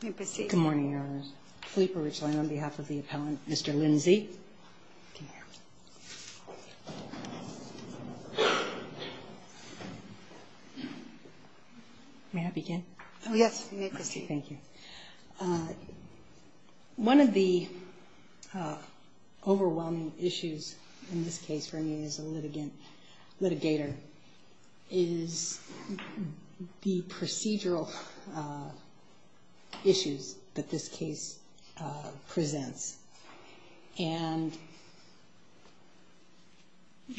Good morning, Your Honors. Philippa Richland on behalf of the appellant, Mr. Lindsey. May I begin? Oh, yes. You may proceed. Thank you. One of the overwhelming issues in this case for me as a litigator is the procedural issues that this case presents. And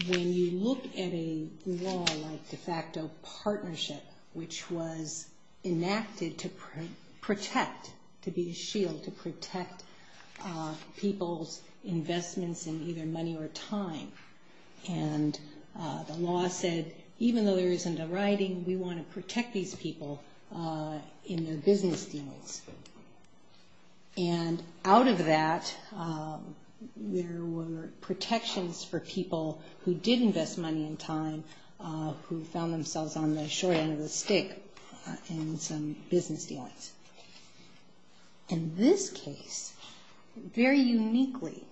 when you look at a law like de facto partnership, which was enacted to protect, to be the shield, to protect people's investments in either money or time, and the law said, even though there isn't a writing, we want to protect these people in their business deals. And out of that, there were protections for people who did invest money and time, who found themselves on the short end of the stick in some business deals. In this case, very uniquely,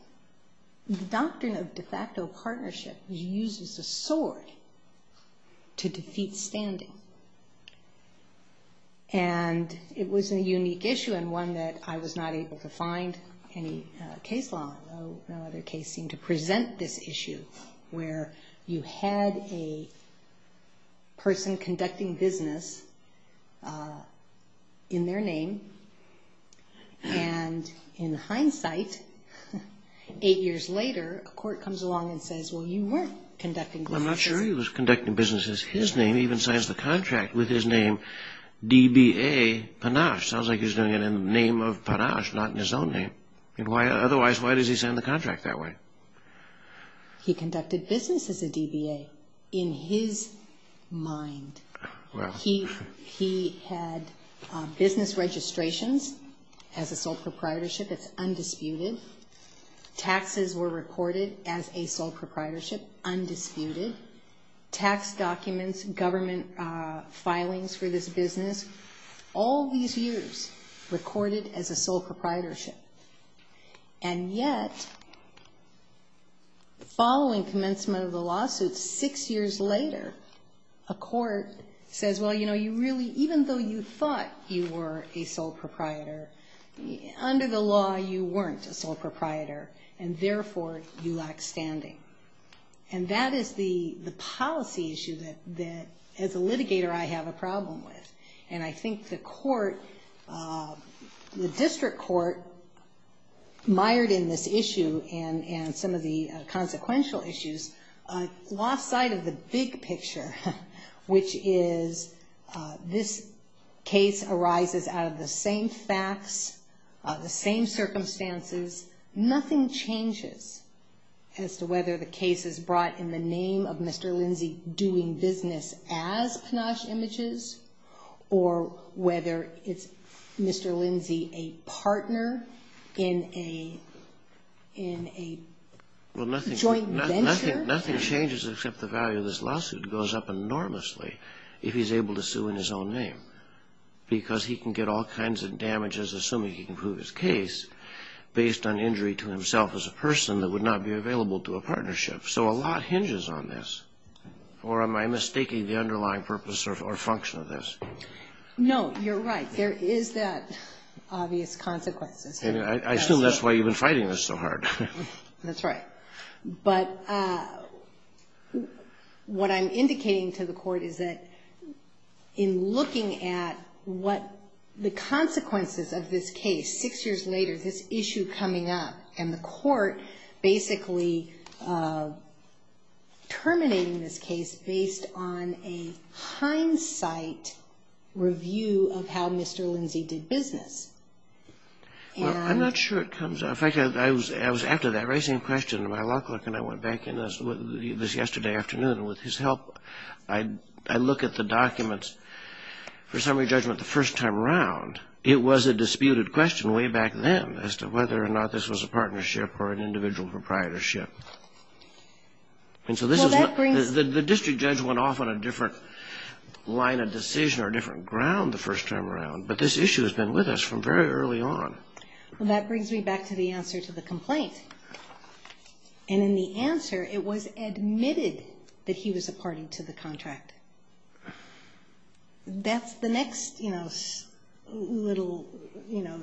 the doctrine of de facto partnership uses a sword to defeat standing. And it was a unique issue and one that I was not able to find any case law, no other case seemed to present this issue, where you had a person conducting business in their name, and in hindsight, eight years later, a court comes along and says, well, you weren't conducting business. I'm not sure he was conducting business as his name. He even signs the contract with his name, DBA Panache. Sounds like he's doing it in the name of Panache, not in his own name. Otherwise, why does he sign the contract that way? He conducted business as a DBA in his mind. He had business registrations as a sole proprietorship. It's undisputed. Taxes were recorded as a sole proprietorship, undisputed. Tax documents, government filings for this business, all these years recorded as a sole proprietorship. And yet, following commencement of the lawsuit, six years later, a court says, well, you know, you really, even though you thought you were a sole proprietor, under the law, you weren't a sole proprietor, and therefore, you lack standing. And that is the policy issue that, as a litigator, I have a problem with. And I think the court, the district court, mired in this issue and some of the consequential issues, lost sight of the big picture, which is this case arises out of the same facts, the same circumstances. Nothing changes as to whether the case is brought in the name of Mr. Lindsay doing business as Panache Images, or whether it's Mr. Lindsay a partner in a joint venture. Nothing changes except the value of this lawsuit goes up enormously if he's able to sue in his own name, because he can get all kinds of damages, assuming he can prove his case, based on injury to himself as a person that would not be available to a partnership. So a lot hinges on this. Or am I mistaking the underlying purpose or function of this? No, you're right. There is that obvious consequence. I assume that's why you've been fighting this so hard. That's right. But what I'm indicating to the court is that in looking at what the consequences of this case, six years later, this issue coming up, and the court basically terminating this case based on a hindsight review of how Mr. Lindsay did business. Well, I'm not sure it comes up. In fact, I was after that raising a question to my law clerk, and I went back in this yesterday afternoon with his help. I look at the documents for summary judgment the first time around. It was a disputed question way back then as to whether or not this was a partnership or an individual proprietorship. The district judge went off on a different line of decision or a different ground the first time around, but this issue has been with us from very early on. Well, that brings me back to the answer to the complaint. And in the answer, it was admitted that he was a party to the contract. That's the next little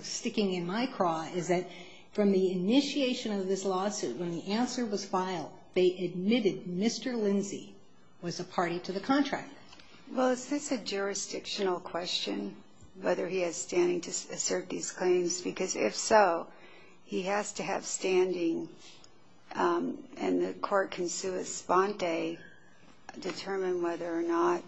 sticking in my craw is that from the initiation of this lawsuit, when the answer was filed, they admitted Mr. Lindsay was a party to the contract. Well, is this a jurisdictional question, whether he has standing to assert these claims? Because if so, he has to have standing, and the court can sui sponte, determine whether or not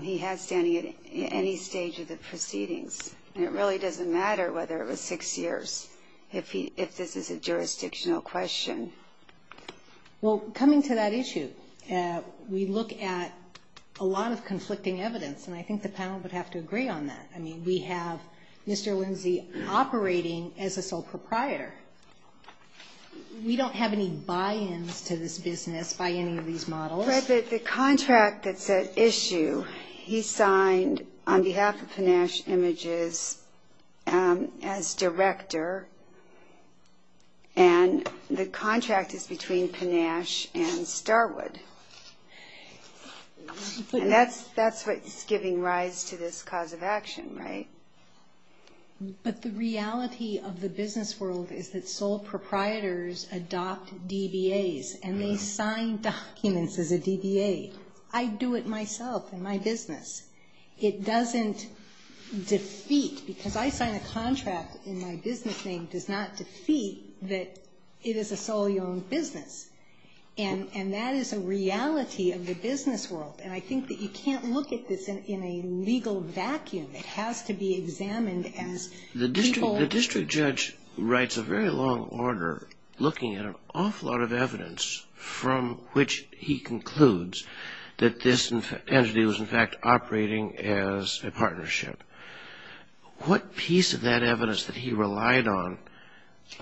he has standing at any stage of the proceedings. And it really doesn't matter whether it was six years, if this is a jurisdictional question. Well, coming to that issue, we look at a lot of conflicting evidence, and I think the panel would have to agree on that. I mean, we have Mr. Lindsay operating as a sole proprietor. We don't have any buy-ins to this business by any of these models. Fred, the contract that's at issue, he signed on behalf of Panache Images as director, and the contract is between Panache and Starwood. And that's what's giving rise to this cause of action, right? But the reality of the business world is that sole proprietors adopt DBAs, and they sign documents as a DBA. I do it myself in my business. It doesn't defeat, because I sign a contract in my business name, does not defeat that it is a solely owned business. And that is a reality of the business world. And I think that you can't look at this in a legal vacuum. It has to be examined as people. The district judge writes a very long order looking at an awful lot of evidence from which he concludes that this entity was, in fact, operating as a partnership. What piece of that evidence that he relied on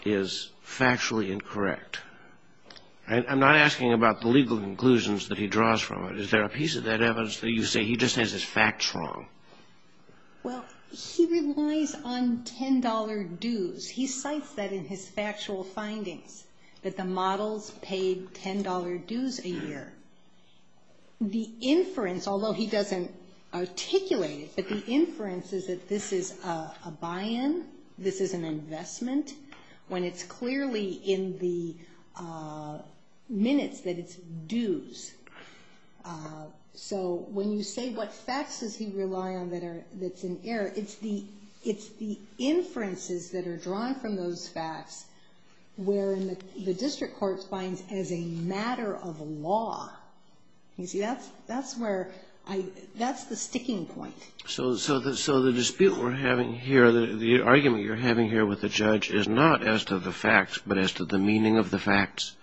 is factually incorrect? I'm not asking about the legal conclusions that he draws from it. Is there a piece of that evidence that you say he just has his facts wrong? Well, he relies on $10 dues. He cites that in his factual findings, that the models paid $10 dues a year. The inference, although he doesn't articulate it, but the inference is that this is a buy-in, this is an investment, when it's clearly in the minutes that it's dues. So when you say what facts does he rely on that's in error, it's the inferences that are drawn from those facts where the district court finds as a matter of law. You see, that's where I, that's the sticking point. So the dispute we're having here, the argument you're having here with the judge is not as to the facts, but as to the meaning of the facts?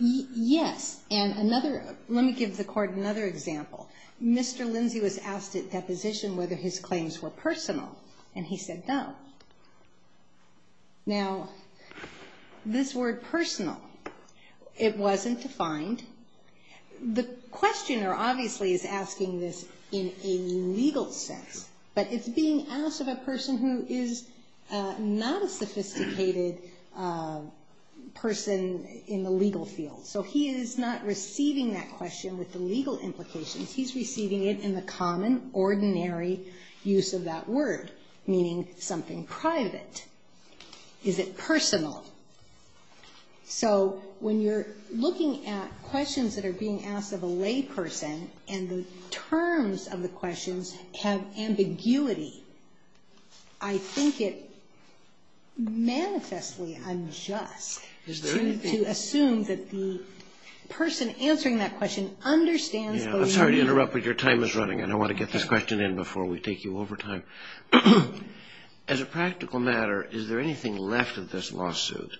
Yes. And another, let me give the court another example. Mr. Lindsay was asked at deposition whether his claims were personal, and he said no. Now, this word personal, it wasn't defined. The questioner obviously is asking this in a legal sense, but it's being asked of a person who is not a sophisticated person in the legal field. So he is not receiving that question with the legal implications. He's receiving it in the common, ordinary use of that word, meaning something private. Is it personal? So when you're looking at questions that are being asked of a layperson and the terms of the questions have ambiguity, I think it manifestly unjust to assume that the person answering that question understands the legal meaning. I'm sorry to interrupt, but your time is running, and I want to get this question in before we take you over time. As a practical matter, is there anything left of this lawsuit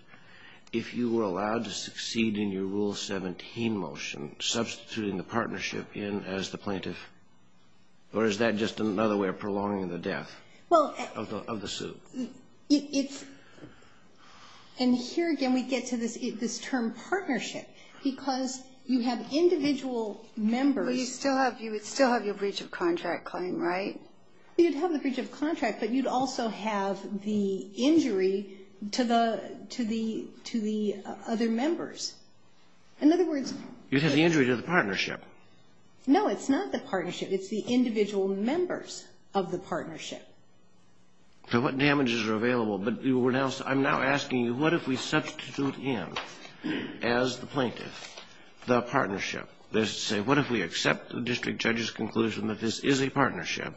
if you were allowed to succeed in your Rule 17 motion, substituting the partnership in as the plaintiff, or is that just another way of prolonging the death of the suit? And here again we get to this term partnership, because you have individual members. Well, you'd still have your breach of contract claim, right? You'd have the breach of contract, but you'd also have the injury to the other members. In other words, You'd have the injury to the partnership. No, it's not the partnership. It's the individual members of the partnership. So what damages are available? But I'm now asking you, what if we substitute in as the plaintiff the partnership? That is to say, what if we accept the district judge's conclusion that this is a partnership,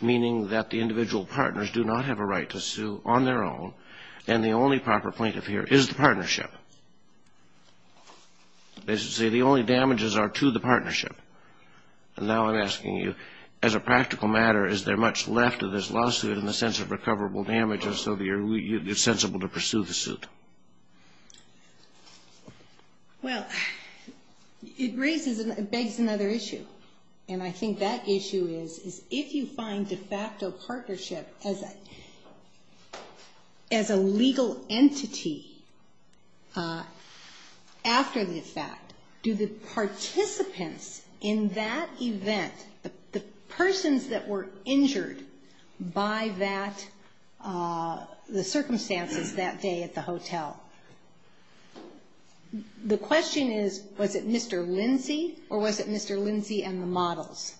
meaning that the individual partners do not have a right to sue on their own, and the only proper plaintiff here is the partnership? That is to say, the only damages are to the partnership. And now I'm asking you, as a practical matter, is there much left of this lawsuit in the sense of recoverable damages so that you're sensible to pursue the suit? Well, it raises and begs another issue, and I think that issue is if you find de facto partnership as a legal entity after the fact, do the participants in that event, the persons that were injured by that, the circumstances that day at the hotel, the question is, was it Mr. Lindsay, or was it Mr. Lindsay and the models?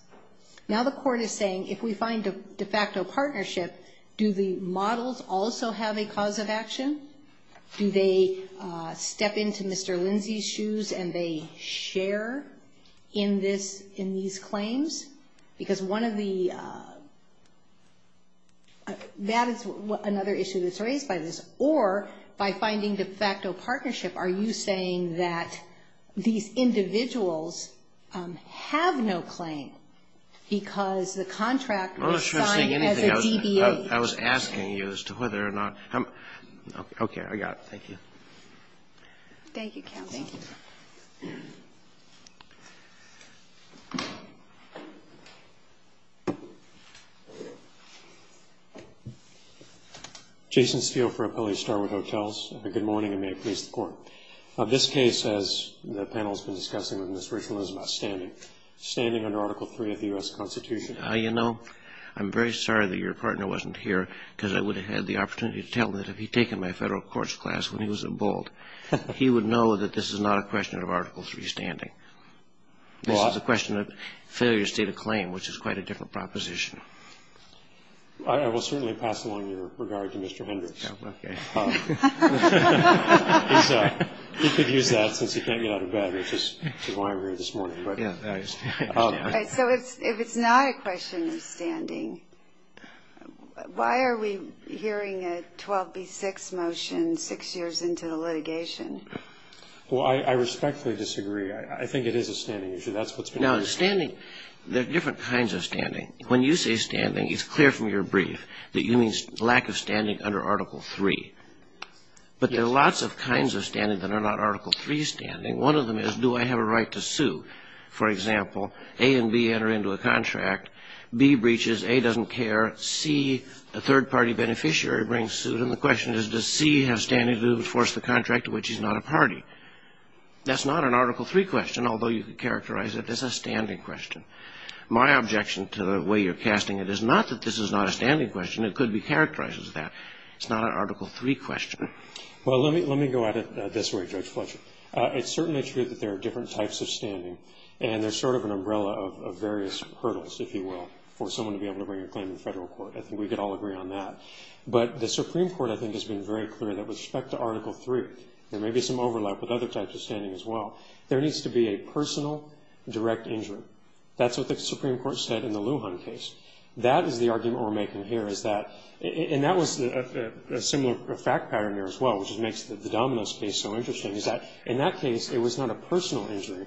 Now the court is saying if we find a de facto partnership, do the models also have a cause of action? Do they step into Mr. Lindsay's shoes and they share in this, in these claims? Because one of the – that is another issue that's raised by this. Or by finding de facto partnership, are you saying that these individuals have no claim because the contract was signed as a DBA? I was asking you as to whether or not – okay. I got it. Thank you. Thank you, counsel. Thank you. Jason Steele for Appellee Starwood Hotels. Good morning, and may it please the Court. This case, as the panel has been discussing with Ms. Richland, is about standing. Standing under Article III of the U.S. Constitution. You know, I'm very sorry that your partner wasn't here because I would have had the opportunity to tell him that if he had taken my federal courts class when he was at Boalt, he would know that this is not a question of Article III standing. This is a question of failure state of claim, which is quite a different proposition. I will certainly pass along your regard to Mr. Hendricks. Okay. He could use that since he can't get out of bed, which is why I'm here this morning. So if it's not a question of standing, why are we hearing a 12B6 motion six years into the litigation? Well, I respectfully disagree. I think it is a standing issue. That's what's been discussed. Now, in standing, there are different kinds of standing. When you say standing, it's clear from your brief that you mean lack of standing under Article III. But there are lots of kinds of standing that are not Article III standing. One of them is, do I have a right to sue? For example, A and B enter into a contract. B breaches. A doesn't care. C, a third-party beneficiary brings suit. And the question is, does C have standing to enforce the contract to which he's not a party? That's not an Article III question, although you could characterize it as a standing question. My objection to the way you're casting it is not that this is not a standing question. It could be characterized as that. It's not an Article III question. Well, let me go at it this way, Judge Fletcher. It's certainly true that there are different types of standing, and there's sort of an umbrella of various hurdles, if you will, for someone to be able to bring a claim to the federal court. I think we could all agree on that. But the Supreme Court, I think, has been very clear that with respect to Article III, there may be some overlap with other types of standing as well. There needs to be a personal direct injury. That's what the Supreme Court said in the Lujan case. That is the argument we're making here is that, and that was a similar fact pattern there as well, which makes the Domino's case so interesting, is that in that case, it was not a personal injury.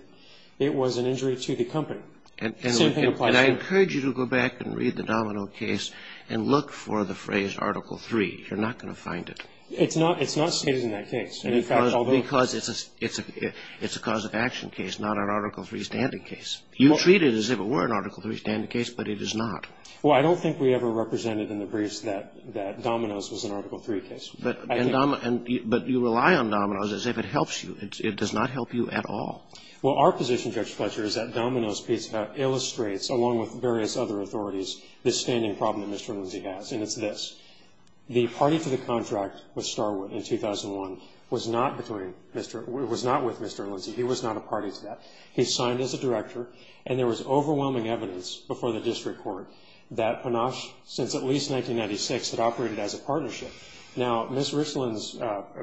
It was an injury to the company. The same thing applies here. And I encourage you to go back and read the Domino case and look for the phrase Article III. You're not going to find it. It's not stated in that case. Because it's a cause of action case, not an Article III standing case. You treat it as if it were an Article III standing case, but it is not. Well, I don't think we ever represented in the briefs that Domino's was an Article III case. But you rely on Domino's as if it helps you. It does not help you at all. Well, our position, Judge Fletcher, is that Domino's case illustrates, along with various other authorities, the standing problem that Mr. Lindsay has, and it's this. The party to the contract with Starwood in 2001 was not with Mr. Lindsay. He was not a party to that. He signed as a director, and there was overwhelming evidence before the district court that Panache, since at least 1996, had operated as a partnership. Now, Ms. Richland's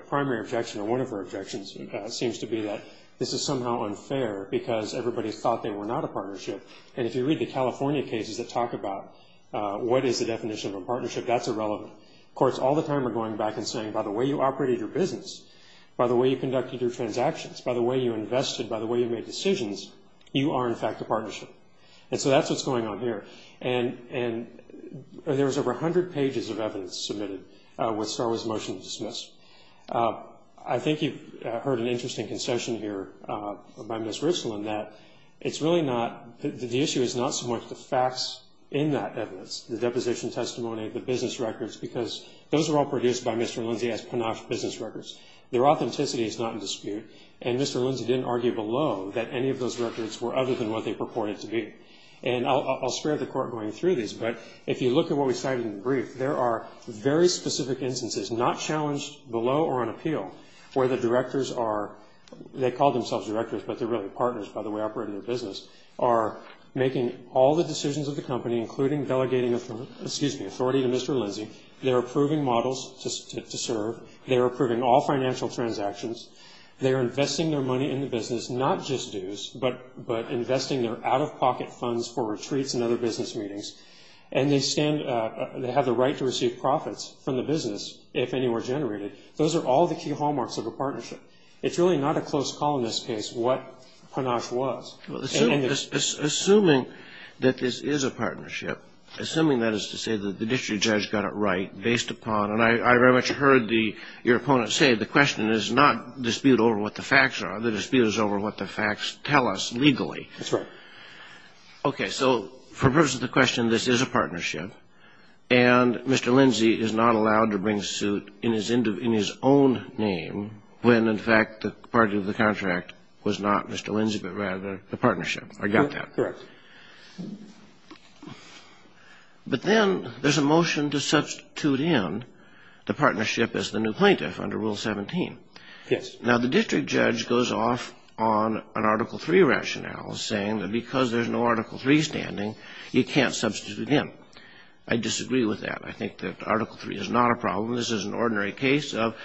primary objection, or one of her objections, seems to be that this is somehow unfair because everybody thought they were not a partnership. And if you read the California cases that talk about what is the definition of a partnership, that's irrelevant. Courts all the time are going back and saying, by the way you operated your business, by the way you conducted your transactions, by the way you invested, by the way you made decisions, you are, in fact, a partnership. And so that's what's going on here. And there was over 100 pages of evidence submitted with Starwood's motion dismissed. I think you've heard an interesting concession here by Ms. Richland that it's really not, the issue is not so much the facts in that evidence, the deposition testimony, the business records, because those were all produced by Mr. Lindsay as Panache business records. Their authenticity is not in dispute, and Mr. Lindsay didn't argue below that any of those records were other than what they purported to be. And I'll spare the court going through these, but if you look at what we cited in the brief, there are very specific instances, not challenged below or on appeal, where the directors are, they call themselves directors, but they're really partners, by the way, operating their business, are making all the decisions of the company, including delegating authority to Mr. Lindsay. They're approving models to serve. They're approving all financial transactions. They're investing their money in the business, not just dues, but investing their out-of-pocket funds for retreats and other business meetings. And they stand, they have the right to receive profits from the business if any were generated. Those are all the key hallmarks of a partnership. It's really not a close call in this case what Panache was. And it's not. Kennedy. Assuming that this is a partnership, assuming that is to say that the district judge got it right, based upon, and I very much heard your opponent say the question is not dispute over what the facts are. The dispute is over what the facts tell us legally. That's right. Okay. So for the purpose of the question, this is a partnership, and Mr. Lindsay is not allowed to bring suit in his own name when, in fact, the party of the contract was not Mr. Lindsay, but rather the partnership or got that. Correct. But then there's a motion to substitute in the partnership as the new plaintiff under Rule 17. Yes. Now, the district judge goes off on an Article III rationale, saying that because there's no Article III standing, you can't substitute in. I disagree with that. I think that Article III is not a problem. This is an ordinary case of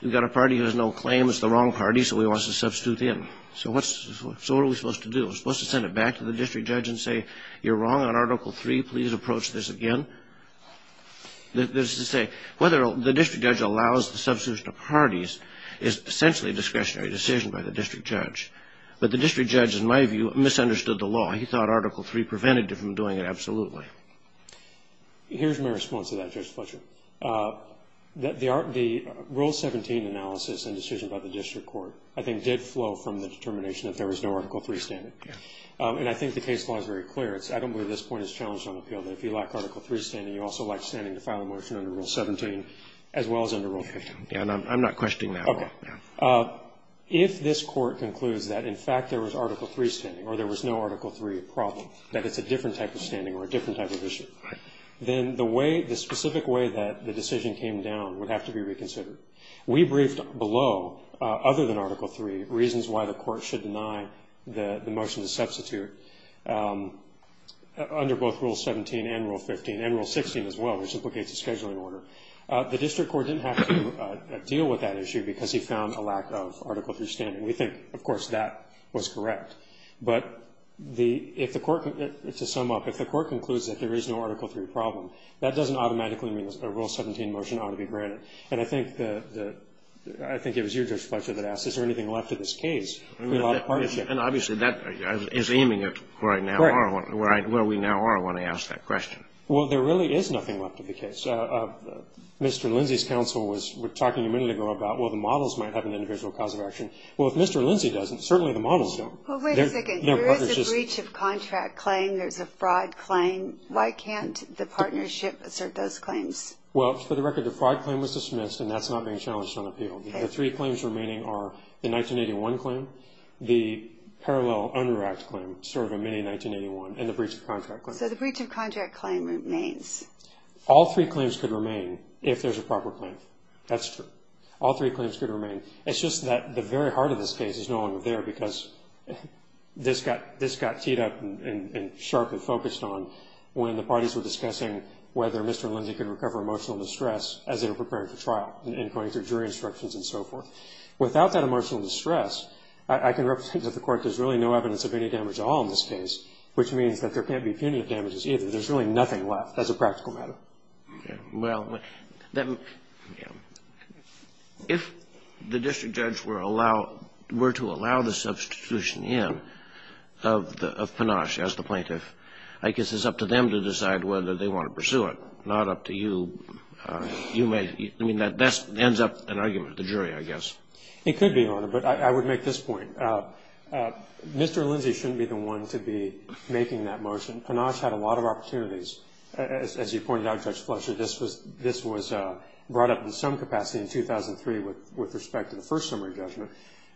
you've got a party who has no claim, it's the wrong party, so he wants to substitute in. So what are we supposed to do? Are we supposed to send it back to the district judge and say you're wrong on Article III, please approach this again? That is to say, whether the district judge allows the substitution of parties is essentially a discretionary decision by the district judge. But the district judge, in my view, misunderstood the law. He thought Article III prevented him from doing it. Absolutely. Here's my response to that, Judge Fletcher. The Rule 17 analysis and decision by the district court, I think, did flow from the determination that there was no Article III standing. Yes. And I think the case law is very clear. I don't believe this point is challenged on appeal, that if you lack Article III standing, you also lack standing to file a motion under Rule 17 as well as under Rule 15. I'm not questioning that at all. If this court concludes that, in fact, there was Article III standing or there was no Article III problem, that it's a different type of standing or a different type of issue, then the specific way that the decision came down would have to be reconsidered. We briefed below, other than Article III, reasons why the court should deny the motion to substitute. Under both Rule 17 and Rule 15, and Rule 16 as well, which implicates a scheduling order, the district court didn't have to deal with that issue because he found a lack of Article III standing. We think, of course, that was correct. But if the court, to sum up, if the court concludes that there is no Article III problem, that doesn't automatically mean a Rule 17 motion ought to be granted. And I think it was you, Judge Fletcher, that asked, is there anything left to this case? And obviously that is aiming at where we now are when I ask that question. Well, there really is nothing left of the case. Mr. Lindsey's counsel was talking a minute ago about, well, the models might have an individual cause of action. Well, if Mr. Lindsey doesn't, certainly the models don't. Well, wait a second. There is a breach of contract claim. There's a fraud claim. Why can't the partnership assert those claims? Well, for the record, the fraud claim was dismissed, and that's not being challenged on appeal. The three claims remaining are the 1981 claim, the parallel under Act claim, sort of a mini-1981, and the breach of contract claim. So the breach of contract claim remains. All three claims could remain if there's a proper claim. That's true. All three claims could remain. It's just that the very heart of this case is no longer there because this got teed up and sharply focused on when the parties were discussing whether Mr. Lindsey could recover emotional distress as they were preparing for trial and going through jury instructions and so forth. Without that emotional distress, I can represent that the Court has really no evidence of any damage at all in this case, which means that there can't be punitive damages either. There's really nothing left. That's a practical matter. Okay. Well, then if the district judge were to allow the substitution in of Panache as the plaintiff, I guess it's up to them to decide whether they want to pursue it, not up to you. I mean, that ends up an argument at the jury, I guess. It could be, Your Honor, but I would make this point. Mr. Lindsey shouldn't be the one to be making that motion. Panache had a lot of opportunities. As you pointed out, Judge Fletcher, this was brought up in some capacity in 2003 with respect to the first summary judgment.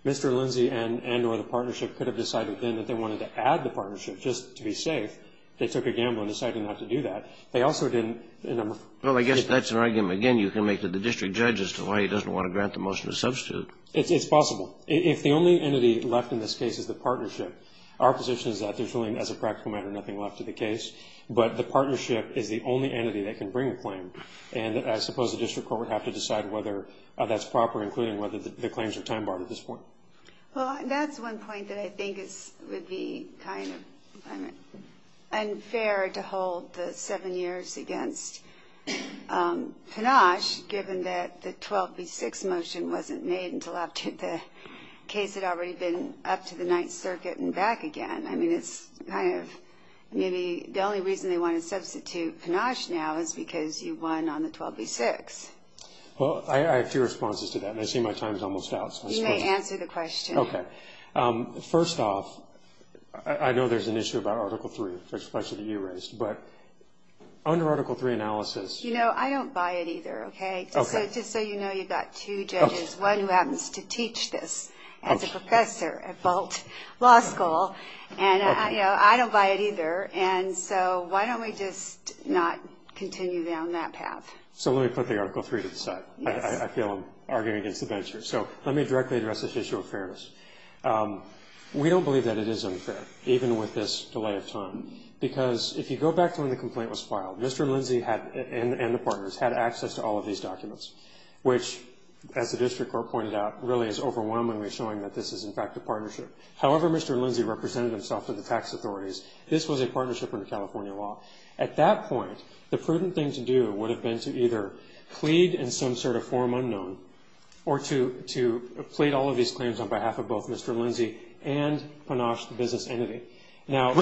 Mr. Lindsey and or the partnership could have decided then that they wanted to add the partnership just to be safe. They took a gamble in deciding not to do that. Well, I guess that's an argument, again, you can make to the district judge as to why he doesn't want to grant the motion to substitute. It's possible. If the only entity left in this case is the partnership, our position is that there's really, as a practical matter, nothing left to the case. But the partnership is the only entity that can bring a claim. And I suppose the district court would have to decide whether that's proper, including whether the claims are time-barred at this point. Well, that's one point that I think would be kind of unfair to hold the seven years against Panache, given that the 12B6 motion wasn't made until after the case had already been up to the Ninth Circuit and back again. I mean, it's kind of maybe the only reason they want to substitute Panache now is because you won on the 12B6. Well, I have two responses to that, and I see my time is almost out. You may answer the question. Okay. First off, I know there's an issue about Article III, the question that you raised. But under Article III analysis — You know, I don't buy it either, okay? Okay. Just so you know, you've got two judges, one who happens to teach this as a professor at Bolt Law School. And, you know, I don't buy it either. And so why don't we just not continue down that path? So let me put the Article III to the side. Yes. I feel I'm arguing against the bencher. So let me directly address this issue of fairness. We don't believe that it is unfair, even with this delay of time, because if you go back to when the complaint was filed, Mr. Lindsay and the partners had access to all of these documents, which, as the district court pointed out, really is overwhelmingly showing that this is, in fact, a partnership. However, Mr. Lindsay represented himself to the tax authorities, this was a partnership under California law. At that point, the prudent thing to do would have been to either plead in some sort of form unknown or to plead all of these claims on behalf of both Mr. Lindsay and Panosh, the business entity. When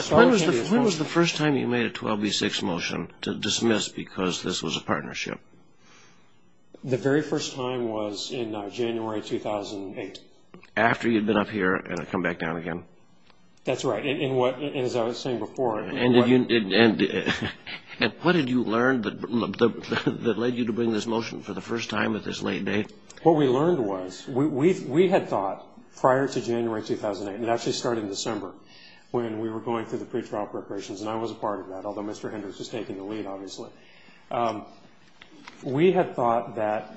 was the first time you made a 12B6 motion to dismiss because this was a partnership? The very first time was in January 2008. After you'd been up here and come back down again? That's right. As I was saying before. What did you learn that led you to bring this motion for the first time at this late date? What we learned was we had thought prior to January 2008, and it actually started in December, when we were going through the pretrial preparations, and I was a part of that, although Mr. Hendricks was taking the lead, obviously, we had thought that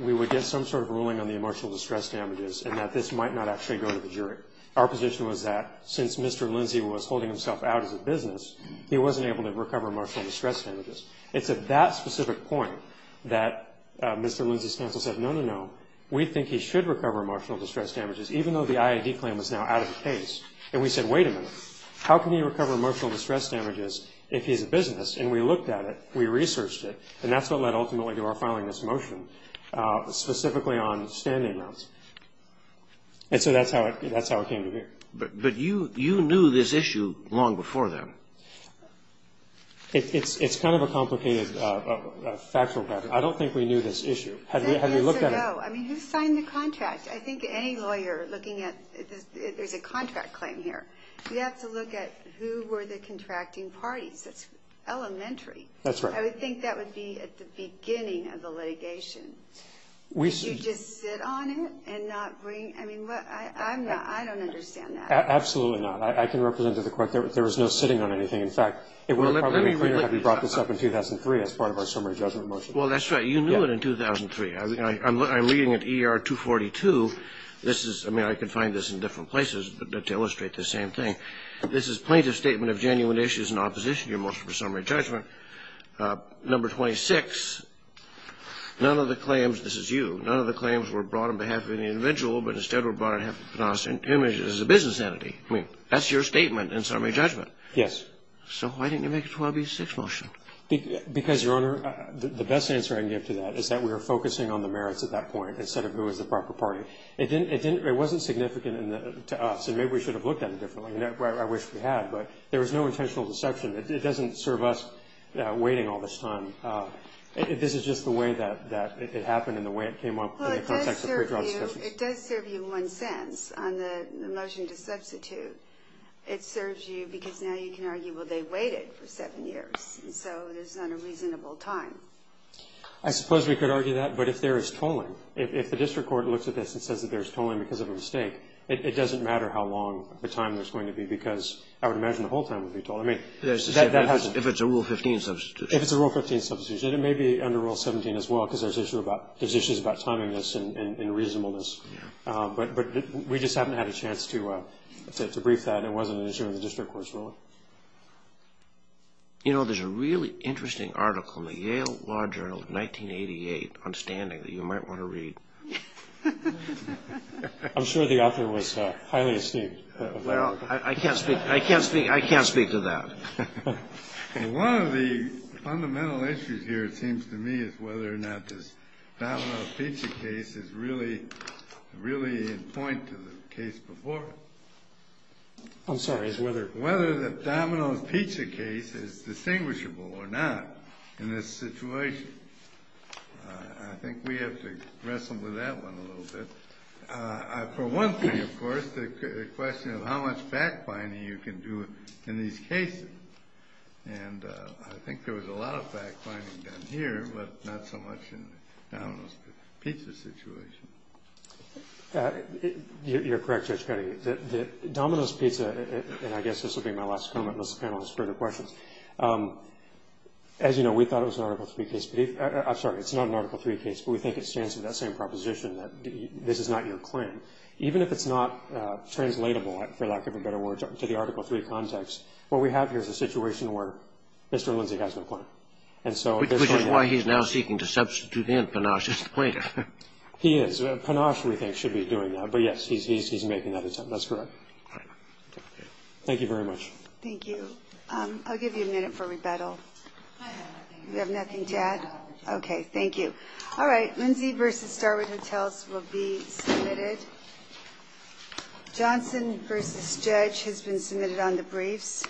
we would get some sort of ruling on the emotional distress damages and that this might not actually go to the jury. Our position was that since Mr. Lindsay was holding himself out as a business, he wasn't able to recover emotional distress damages. It's at that specific point that Mr. Lindsay's counsel said, no, no, no, we think he should recover emotional distress damages, even though the IID claim was now out of the case. And we said, wait a minute, how can he recover emotional distress damages if he's a business? And we looked at it. We researched it. And that's what led ultimately to our filing this motion, specifically on standing mounts. And so that's how it came to be. But you knew this issue long before then. It's kind of a complicated factual matter. I don't think we knew this issue. I mean, who signed the contract? I think any lawyer looking at the contract claim here, you have to look at who were the contracting parties. That's elementary. That's right. I would think that would be at the beginning of the litigation. Did you just sit on it and not bring ñ I mean, I'm not ñ I don't understand that. Absolutely not. I can represent to the Court there was no sitting on anything. In fact, it would have probably been clearer had we brought this up in 2003 as part of our summary judgment motion. Well, that's right. You knew it in 2003. I'm reading it ER 242. This is ñ I mean, I can find this in different places to illustrate the same thing. This is plaintiff's statement of genuine issues in opposition to your motion for summary judgment. Number 26, none of the claims ñ this is you. None of the claims were brought on behalf of any individual, but instead were brought on behalf of a business entity. I mean, that's your statement in summary judgment. Yes. So why didn't you make a 12B6 motion? Because, Your Honor, the best answer I can give to that is that we were focusing on the merits at that point instead of who was the proper party. It didn't ñ it wasn't significant to us, and maybe we should have looked at it differently. I wish we had, but there was no intentional deception. It doesn't serve us waiting all this time. This is just the way that it happened and the way it came up in the context of pre-trial discussions. Well, it does serve you. It does serve you in one sense on the motion to substitute. It serves you because now you can argue, well, they waited for seven years, and so there's not a reasonable time. I suppose we could argue that, but if there is tolling, if the district court looks at this and says that there's tolling because of a mistake, it doesn't matter how long the time there's going to be because I would imagine the whole time would be tolled. I mean, that happens. If it's a Rule 15 substitution. If it's a Rule 15 substitution. It may be under Rule 17 as well because there's issues about timing this and reasonableness. But we just haven't had a chance to brief that. It wasn't an issue of the district court's ruling. You know, there's a really interesting article in the Yale Law Journal of 1988, on standing, that you might want to read. I'm sure the author was highly esteemed. Well, I can't speak to that. One of the fundamental issues here, it seems to me, is whether or not this Domino's Pizza case is really in point to the case before it. I'm sorry. It's whether. Whether the Domino's Pizza case is distinguishable or not in this situation. I think we have to wrestle with that one a little bit. For one thing, of course, the question of how much fact-finding you can do in these cases. And I think there was a lot of fact-finding done here, but not so much in the Domino's Pizza situation. You're correct, Judge Cuddy. The Domino's Pizza, and I guess this will be my last comment unless the panel has further questions. As you know, we thought it was an Article 3 case. I'm sorry. It's not an Article 3 case. But we think it stands to that same proposition that this is not your claim. Even if it's not translatable, for lack of a better word, to the Article 3 context, what we have here is a situation where Mr. Linzig has no claim. Which is why he's now seeking to substitute in Panache as the plaintiff. He is. Panache, we think, should be doing that. But, yes, he's making that attempt. That's correct. Thank you very much. Thank you. I'll give you a minute for rebuttal. You have nothing to add? No. Okay. Thank you. All right. Linzig v. Starwood Hotels will be submitted. Johnson v. Judge has been submitted on the briefs.